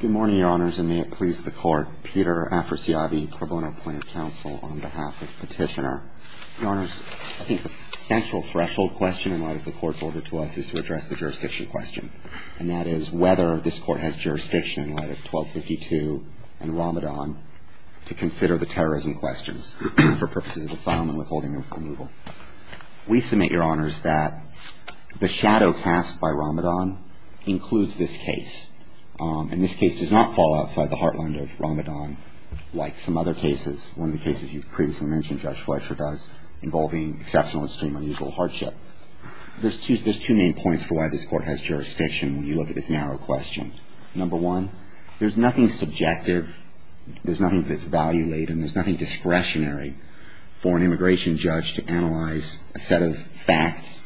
Good morning, Your Honors, and may it please the Court. Peter Afrasiabi, Karbono Point of Counsel, on behalf of Petitioner. Your Honors, I think the central threshold question in light of the Court's order to us is to address the jurisdiction question, and that is whether this Court has jurisdiction in light of 1252 and Ramadan to consider the terrorism questions for purposes of asylum and withholding of removal. We submit, Your Honors, that the shadow cast by Ramadan includes this case, and this case does not fall outside the heartland of Ramadan, like some other cases. One of the cases you've previously mentioned, Judge Fletcher does, involving exceptional extreme unusual hardship. There's two main points for why this Court has jurisdiction when you look at this narrow question. Number one, there's nothing subjective. There's nothing that's value-laden. There's nothing discretionary for an immigration judge to analyze a set of facts,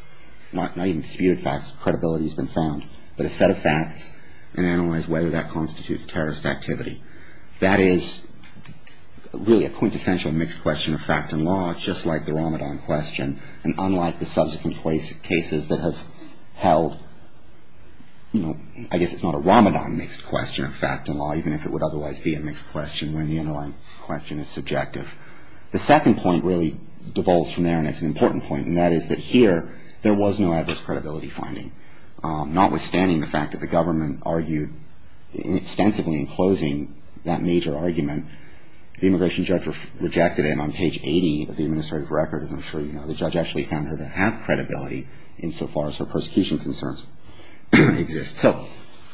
not even disputed facts, credibility has been found, but a set of facts and analyze whether that constitutes terrorist activity. That is really a quintessential mixed question of fact and law, just like the Ramadan question, and unlike the subsequent cases that have held, you know, I guess it's not a Ramadan mixed question of fact and law, even if it would otherwise be a mixed question when the underlying question is subjective. The second point really devolves from there, and it's an important point, and that is that here there was no adverse credibility finding. Notwithstanding the fact that the government argued extensively in closing that major argument, the immigration judge rejected it, and on page 80 of the administrative record, as I'm sure you know, the judge actually found her to have credibility insofar as her prosecution concerns exist. So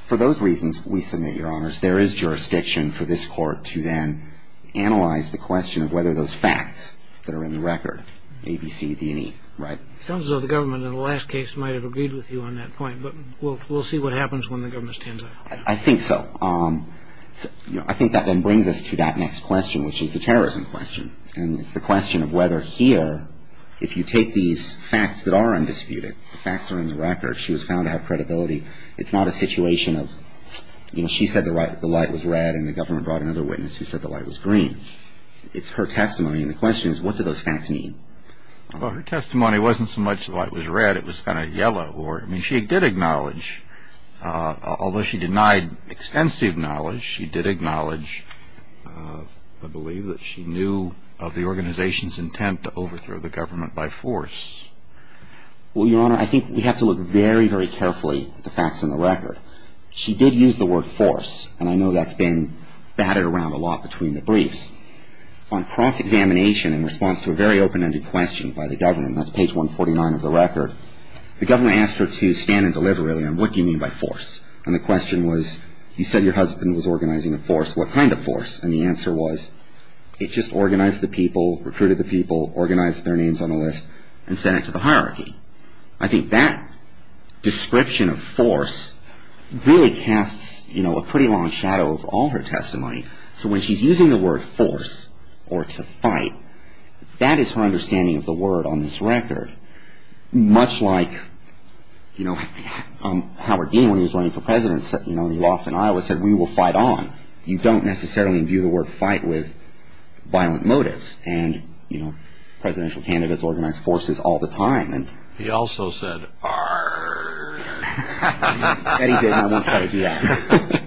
for those reasons, we submit, Your Honors, there is jurisdiction for this Court to then analyze the question of whether those facts that are in the record, A, B, C, D, and E, right? It sounds as though the government in the last case might have agreed with you on that point, but we'll see what happens when the government stands up. I think so. You know, I think that then brings us to that next question, which is the terrorism question, and it's the question of whether here, if you take these facts that are undisputed, the facts are in the record, she was found to have credibility. It's not a situation of, you know, she said the light was red and the government brought another witness who said the light was green. It's her testimony, and the question is, what do those facts mean? Well, her testimony wasn't so much the light was red, it was kind of yellow. I mean, she did acknowledge, although she denied extensive knowledge, she did acknowledge, I believe, that she knew of the organization's intent to overthrow the government by force. Well, Your Honor, I think we have to look very, very carefully at the facts in the record. She did use the word force, and I know that's been batted around a lot between the briefs. On cross-examination in response to a very open-ended question by the government, and that's page 149 of the record, the government asked her to stand and deliver, really, and what do you mean by force? And the question was, you said your husband was organizing a force. What kind of force? And the answer was, it just organized the people, recruited the people, organized their names on the list, and sent it to the hierarchy. I think that description of force really casts, you know, a pretty long shadow over all her testimony. So when she's using the word force or to fight, that is her understanding of the word on this record. But much like, you know, Howard Dean, when he was running for president, you know, he lost in Iowa, said, we will fight on. You don't necessarily, in view of the word, fight with violent motives. And, you know, presidential candidates organize forces all the time. He also said, arrr. Eddie did, and I won't try to do that.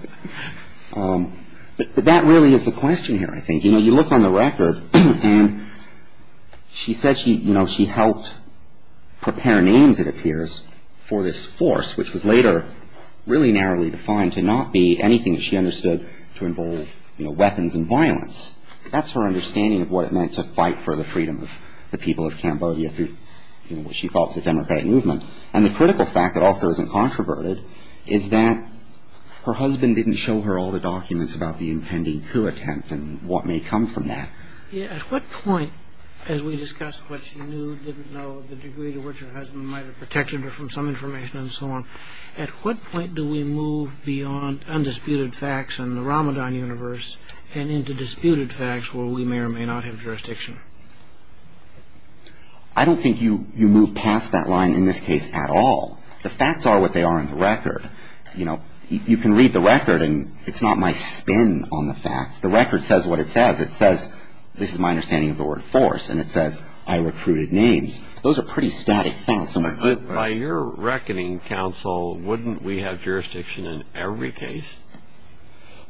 But that really is the question here, I think. You know, you look on the record, and she said she, you know, she helped prepare names, it appears, for this force, which was later really narrowly defined to not be anything she understood to involve, you know, weapons and violence. That's her understanding of what it meant to fight for the freedom of the people of Cambodia through, you know, what she thought was a democratic movement. And the critical fact that also isn't controverted is that her husband didn't show her all the documents about the impending coup attempt and what may come from that. Yeah, at what point, as we discussed what she knew, didn't know, the degree to which her husband might have protected her from some information and so on, at what point do we move beyond undisputed facts in the Ramadan universe and into disputed facts where we may or may not have jurisdiction? I don't think you move past that line in this case at all. The facts are what they are in the record. You know, you can read the record, and it's not my spin on the facts. The record says what it says. It says, this is my understanding of the word force, and it says, I recruited names. Those are pretty static facts. By your reckoning, counsel, wouldn't we have jurisdiction in every case?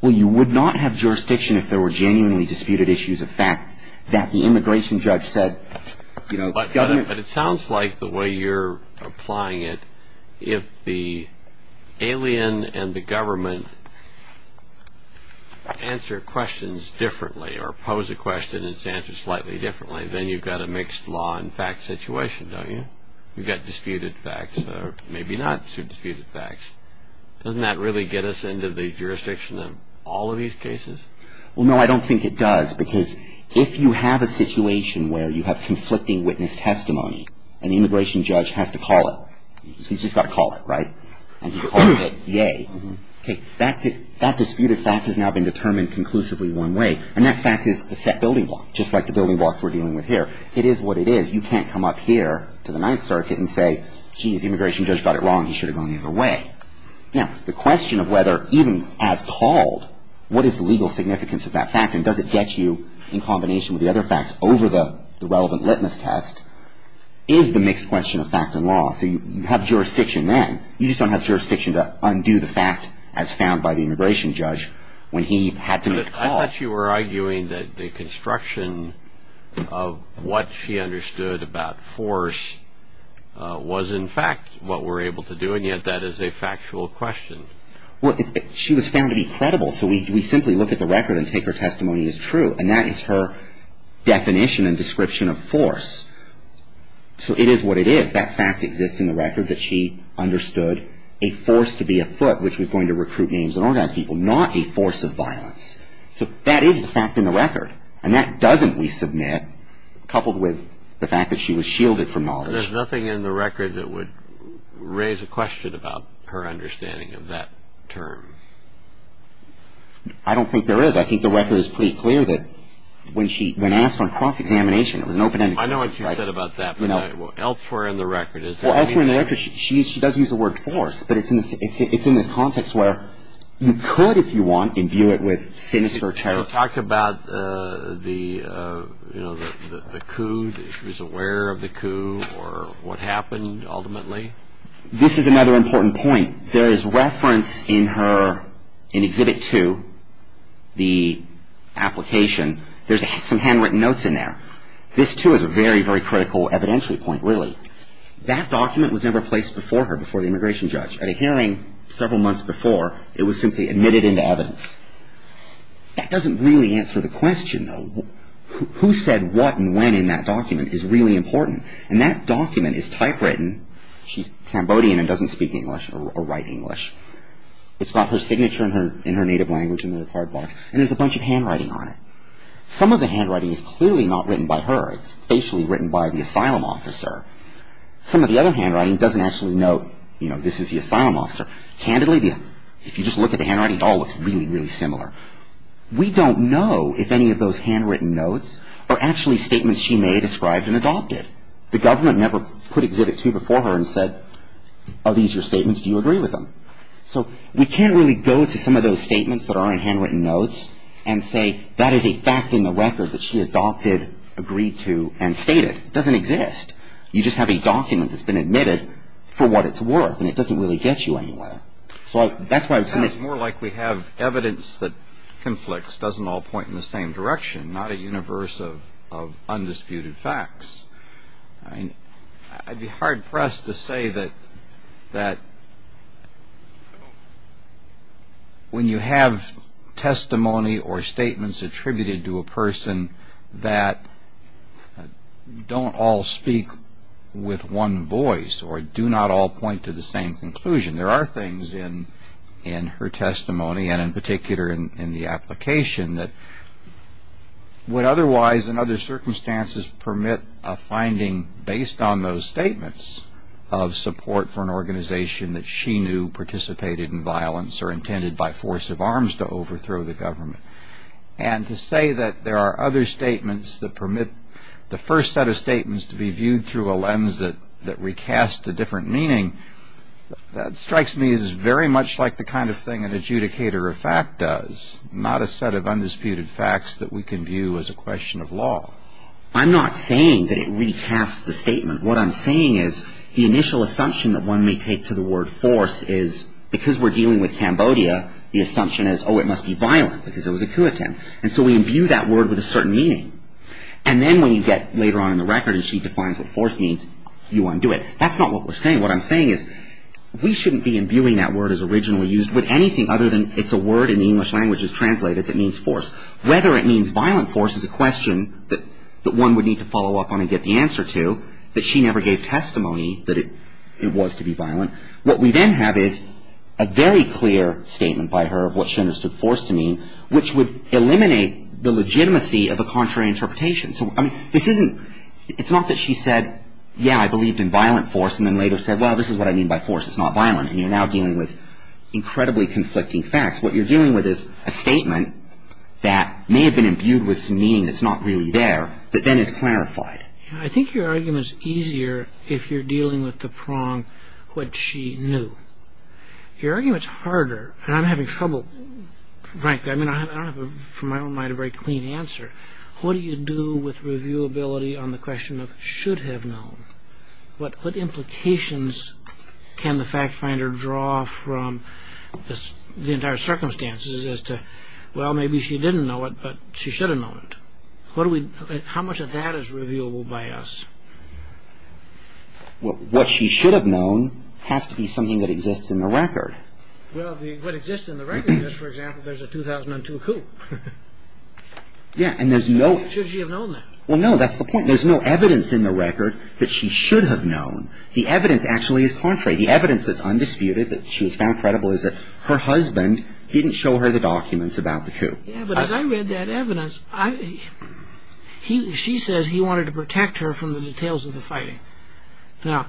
Well, you would not have jurisdiction if there were genuinely disputed issues of fact that the immigration judge said, you know, But it sounds like the way you're applying it, if the alien and the government answer questions differently or pose a question and it's answered slightly differently, then you've got a mixed law and fact situation, don't you? You've got disputed facts or maybe not so disputed facts. Doesn't that really get us into the jurisdiction of all of these cases? Well, no, I don't think it does, because if you have a situation where you have conflicting witness testimony and the immigration judge has to call it, he's just got to call it, right? And he calls it, yay, okay, that disputed fact has now been determined conclusively one way, and that fact is the set building block, just like the building blocks we're dealing with here. It is what it is. You can't come up here to the Ninth Circuit and say, geez, the immigration judge got it wrong. He should have gone the other way. Now, the question of whether even as called, what is the legal significance of that fact and does it get you in combination with the other facts over the relevant litmus test is the mixed question of fact and law. So you have jurisdiction then. You just don't have jurisdiction to undo the fact as found by the immigration judge when he had to make the call. I thought you were arguing that the construction of what she understood about force was in fact what we're able to do, and yet that is a factual question. Well, she was found to be credible, so we simply look at the record and take her testimony as true, and that is her definition and description of force. So it is what it is. That fact exists in the record that she understood a force to be afoot, which was going to recruit names and organize people, not a force of violence. So that is the fact in the record, and that doesn't, we submit, coupled with the fact that she was shielded from knowledge. There's nothing in the record that would raise a question about her understanding of that term. I don't think there is. I think the record is pretty clear that when asked on cross-examination, it was an open-ended question. I know what you said about that, but elsewhere in the record, is there anything? Well, elsewhere in the record, she does use the word force, but it's in this context where you could, if you want, imbue it with sinister territory. Talk about the coup, if she was aware of the coup or what happened ultimately. This is another important point. There is reference in her, in Exhibit 2, the application. There's some handwritten notes in there. This, too, is a very, very critical evidentiary point, really. That document was never placed before her, before the immigration judge. At a hearing several months before, it was simply admitted into evidence. That doesn't really answer the question, though. Who said what and when in that document is really important. And that document is typewritten. She's Cambodian and doesn't speak English or write English. It's got her signature in her native language in the record box, and there's a bunch of handwriting on it. Some of the handwriting is clearly not written by her. It's facially written by the asylum officer. Some of the other handwriting doesn't actually note, you know, this is the asylum officer. Candidly, if you just look at the handwriting, it all looks really, really similar. We don't know if any of those handwritten notes are actually statements she made, ascribed, and adopted. The government never put Exhibit 2 before her and said, are these your statements, do you agree with them? So we can't really go to some of those statements that are in handwritten notes and say that is a fact in the record that she adopted, agreed to, and stated. It doesn't exist. You just have a document that's been admitted for what it's worth, and it doesn't really get you anywhere. It's more like we have evidence that conflicts, doesn't all point in the same direction, not a universe of undisputed facts. I'd be hard-pressed to say that when you have testimony or statements attributed to a person that don't all speak with one voice or do not all point to the same conclusion, there are things in her testimony and in particular in the application that would otherwise, in other circumstances, permit a finding based on those statements of support for an organization that she knew participated in violence or intended by force of arms to overthrow the government. And to say that there are other statements that permit the first set of statements to be viewed through a lens that recasts a different meaning, that strikes me as very much like the kind of thing an adjudicator of fact does, not a set of undisputed facts that we can view as a question of law. I'm not saying that it recasts the statement. What I'm saying is the initial assumption that one may take to the word force is because we're dealing with Cambodia, the assumption is, oh, it must be violent because it was a coup attempt. And so we imbue that word with a certain meaning. And then when you get later on in the record and she defines what force means, you undo it. That's not what we're saying. What I'm saying is we shouldn't be imbuing that word as originally used with anything other than it's a word in the English languages translated that means force. Whether it means violent force is a question that one would need to follow up on and get the answer to, that she never gave testimony that it was to be violent. What we then have is a very clear statement by her of what she understood force to mean, which would eliminate the legitimacy of a contrary interpretation. So, I mean, this isn't, it's not that she said, yeah, I believed in violent force and then later said, well, this is what I mean by force. It's not violent. And you're now dealing with incredibly conflicting facts. What you're dealing with is a statement that may have been imbued with some meaning that's not really there that then is clarified. I think your argument's easier if you're dealing with the prong what she knew. Your argument's harder, and I'm having trouble. Frank, I mean, I don't have, from my own mind, a very clean answer. What do you do with reviewability on the question of should have known? What implications can the fact finder draw from the entire circumstances as to, well, maybe she didn't know it, but she should have known it. How much of that is reviewable by us? What she should have known has to be something that exists in the record. Well, what exists in the record is, for example, there's a 2002 coup. Should she have known that? Well, no, that's the point. There's no evidence in the record that she should have known. The evidence actually is contrary. The evidence that's undisputed, that she's found credible, is that her husband didn't show her the documents about the coup. Yeah, but as I read that evidence, she says he wanted to protect her from the details of the fighting. Now,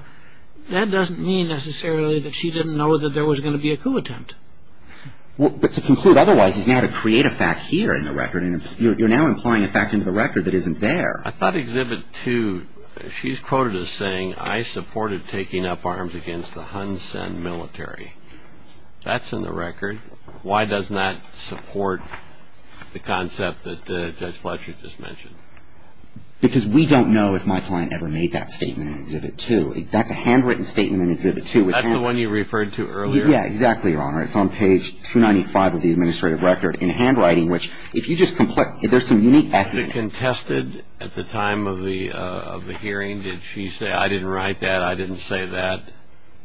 that doesn't mean necessarily that she didn't know that there was going to be a coup attempt. Well, but to conclude otherwise is now to create a fact here in the record, and you're now implying a fact into the record that isn't there. I thought Exhibit 2, she's quoted as saying, I supported taking up arms against the Hun Sen military. That's in the record. Why doesn't that support the concept that Judge Fletcher just mentioned? Because we don't know if my client ever made that statement in Exhibit 2. That's a handwritten statement in Exhibit 2. That's the one you referred to earlier? Yeah, exactly, Your Honor. It's on page 295 of the administrative record in handwriting, which if you just complete, there's some unique passages. Was it contested at the time of the hearing? Did she say, I didn't write that, I didn't say that?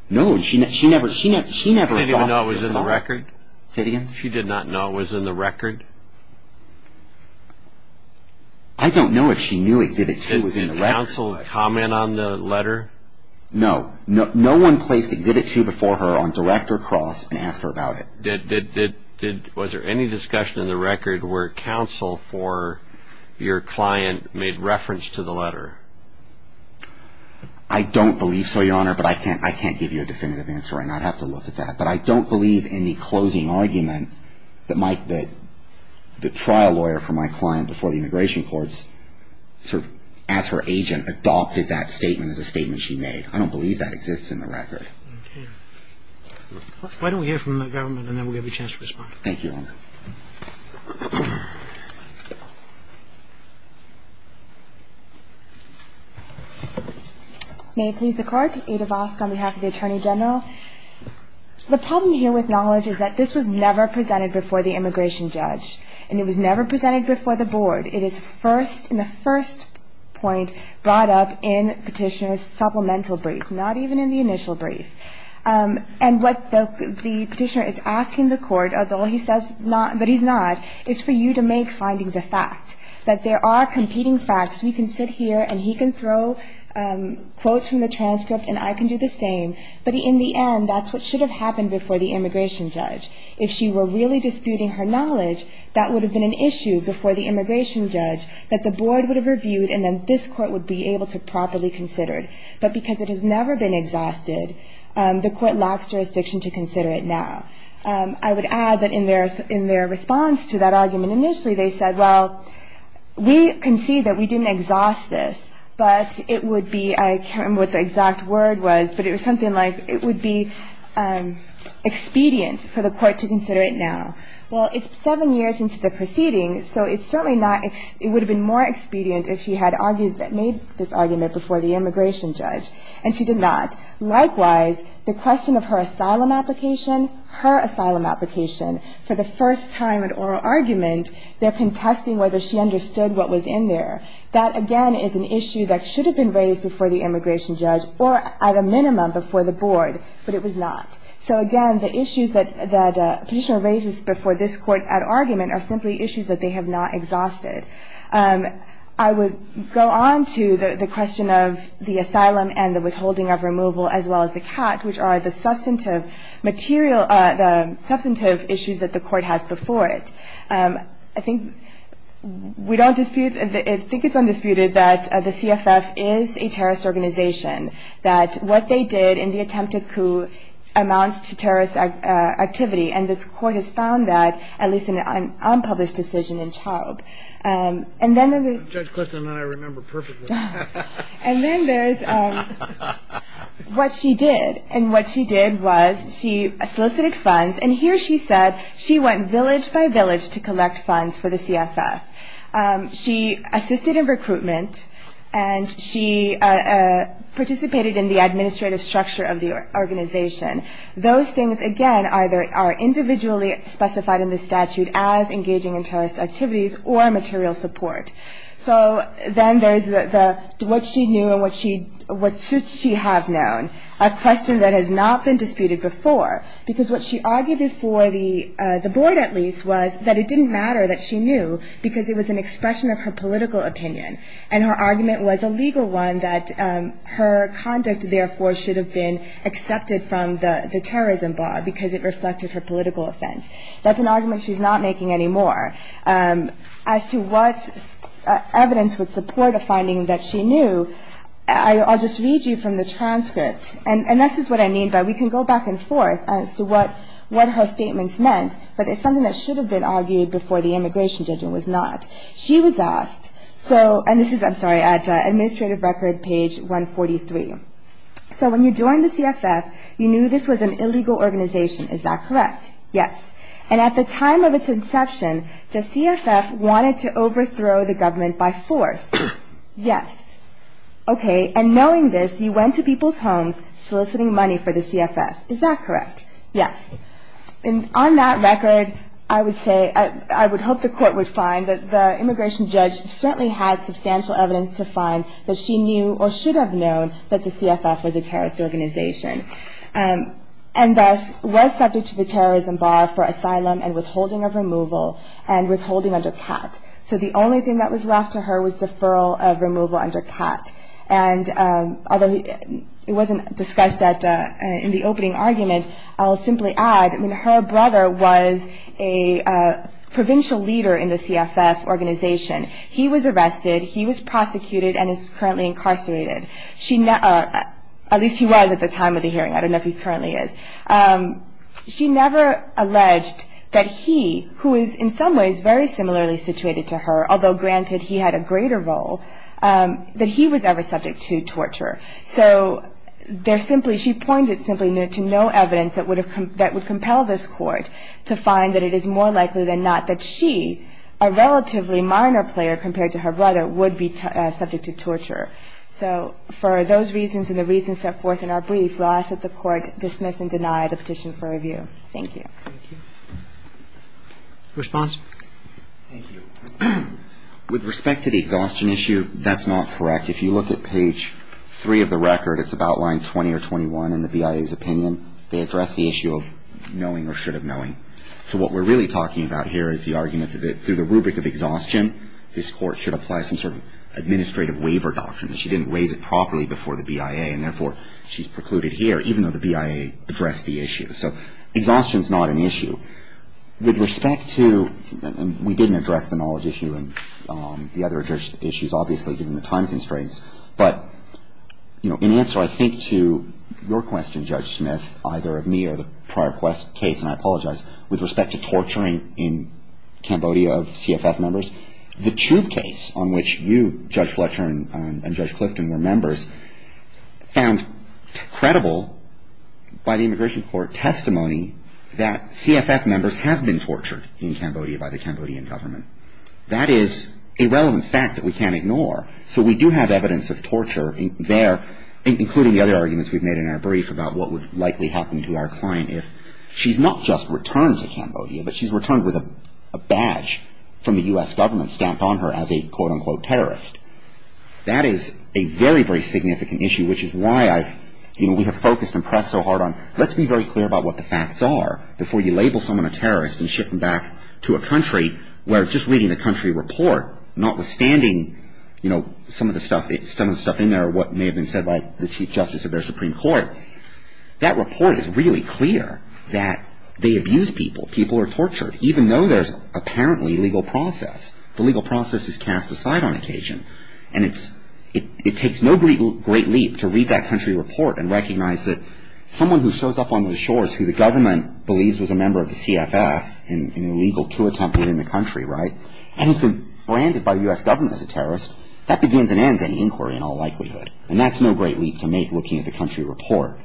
No, she never, she never. She didn't even know it was in the record? Say it again. She did not know it was in the record? I don't know if she knew Exhibit 2 was in the record. Did counsel comment on the letter? No. No one placed Exhibit 2 before her on direct or cross and asked her about it. Was there any discussion in the record where counsel for your client made reference to the letter? I don't believe so, Your Honor, but I can't give you a definitive answer on that. I'd have to look at that. But I don't believe in the closing argument that the trial lawyer for my client before the immigration courts sort of as her agent adopted that statement as a statement she made. I don't believe that exists in the record. Okay. Why don't we hear from the government and then we'll have a chance to respond. Thank you, Your Honor. May it please the Court. Ada Vosk on behalf of the Attorney General. The problem here with knowledge is that this was never presented before the immigration judge and it was never presented before the board. It is first in the first point brought up in Petitioner's supplemental brief, not even in the initial brief. And what the Petitioner is asking the Court, although he says not, but he's not, is for you to make findings a fact, that there are competing facts. We can sit here and he can throw quotes from the transcript and I can do the same, but in the end that's what should have happened before the immigration judge. If she were really disputing her knowledge, that would have been an issue before the immigration judge that the board would have reviewed and then this Court would be able to properly consider it. But because it has never been exhausted, the Court lacks jurisdiction to consider it now. I would add that in their response to that argument initially they said, well, we concede that we didn't exhaust this, but it would be, I can't remember what the exact word was, but it was something like it would be expedient for the Court to consider it now. Well, it's seven years into the proceeding, so it's certainly not, it would have been more expedient if she had made this argument before the immigration judge. And she did not. Likewise, the question of her asylum application, her asylum application, for the first time in oral argument they're contesting whether she understood what was in there. That, again, is an issue that should have been raised before the immigration judge or at a minimum before the board, but it was not. So, again, the issues that Petitioner raises before this Court at argument are simply issues that they have not exhausted. I would go on to the question of the asylum and the withholding of removal as well as the CAT, which are the substantive issues that the Court has before it. I think we don't dispute, I think it's undisputed that the CFF is a terrorist organization, that what they did in the attempt to coup amounts to terrorist activity, and this Court has found that, at least in an unpublished decision in Chaube. And then there's... Judge Clifton and I remember perfectly. And then there's what she did, and what she did was she solicited funds, and here she said she went village by village to collect funds for the CFF. She assisted in recruitment, and she participated in the administrative structure of the organization. Those things, again, either are individually specified in the statute as engaging in terrorist activities or material support. So then there's what she knew and what should she have known, a question that has not been disputed before, because what she argued before the Board, at least, was that it didn't matter that she knew because it was an expression of her political opinion, and her argument was a legal one that her conduct, therefore, should have been accepted from the terrorism bar because it reflected her political offense. That's an argument she's not making anymore. As to what evidence would support a finding that she knew, I'll just read you from the transcript. And this is what I mean by we can go back and forth as to what her statements meant, but it's something that should have been argued before the immigration judgment was not. She was asked, and this is, I'm sorry, at Administrative Record, page 143. So when you joined the CFF, you knew this was an illegal organization. Is that correct? Yes. And at the time of its inception, the CFF wanted to overthrow the government by force. Yes. Okay. And knowing this, you went to people's homes soliciting money for the CFF. Is that correct? Yes. And on that record, I would say, I would hope the Court would find that the immigration judge certainly had substantial evidence to find that she knew or should have known that the CFF was a terrorist organization and thus was subject to the terrorism bar for asylum and withholding of removal and withholding under cap. So the only thing that was left to her was deferral of removal under cap. And although it wasn't discussed in the opening argument, I'll simply add, her brother was a provincial leader in the CFF organization. He was arrested. He was prosecuted and is currently incarcerated. At least he was at the time of the hearing. I don't know if he currently is. She never alleged that he, who is in some ways very similarly situated to her, although granted he had a greater role, that he was ever subject to torture. So she pointed simply to no evidence that would compel this Court to find that it is more likely than not that she, a relatively minor player compared to her brother, would be subject to torture. So for those reasons and the reasons set forth in our brief, we'll ask that the Court dismiss and deny the petition for review. Thank you. Roberts. Thank you. Response. Thank you. With respect to the exhaustion issue, that's not correct. If you look at page 3 of the record, it's about line 20 or 21 in the BIA's opinion, they address the issue of knowing or should have knowing. So what we're really talking about here is the argument that through the rubric of exhaustion, this Court should apply some sort of administrative waiver doctrine. She didn't raise it properly before the BIA, and therefore she's precluded here, even though the BIA addressed the issue. So exhaustion is not an issue. With respect to, and we didn't address the knowledge issue and the other issues, obviously, given the time constraints, but, you know, in answer, I think, to your question, Judge Smith, either of me or the prior case, and I apologize, with respect to torturing in Cambodia of CFF members, the tube case on which you, Judge Fletcher, and Judge Clifton were members, found credible by the immigration court testimony that CFF members have been tortured in Cambodia by the Cambodian government. That is a relevant fact that we can't ignore. So we do have evidence of torture there, including the other arguments we've made in our brief about what would likely happen to our client if she's not just returned to Cambodia, but she's returned with a badge from the U.S. government stamped on her as a quote-unquote terrorist. That is a very, very significant issue, which is why I've, you know, we have focused and pressed so hard on let's be very clear about what the facts are before you label someone a terrorist and ship them back to a country where just reading the country report, notwithstanding, you know, some of the stuff in there, what may have been said by the Chief Justice of their Supreme Court, that report is really clear that they abuse people. People are tortured, even though there's apparently legal process. The legal process is cast aside on occasion, and it takes no great leap to read that country report and recognize that someone who shows up on the shores who the government believes was a member of the CFF in an illegal coup attempt within the country, right, and has been branded by the U.S. government as a terrorist, that begins and ends any inquiry in all likelihood, and that's no great leap to make looking at the country report.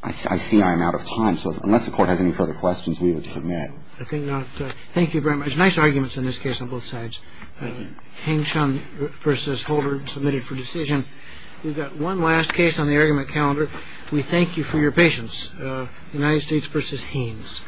I see I'm out of time, so unless the Court has any further questions, we would submit. I think not. Thank you very much. Nice arguments in this case on both sides. Hing Chun versus Holder submitted for decision. We've got one last case on the argument calendar. We thank you for your patience. United States versus Haines.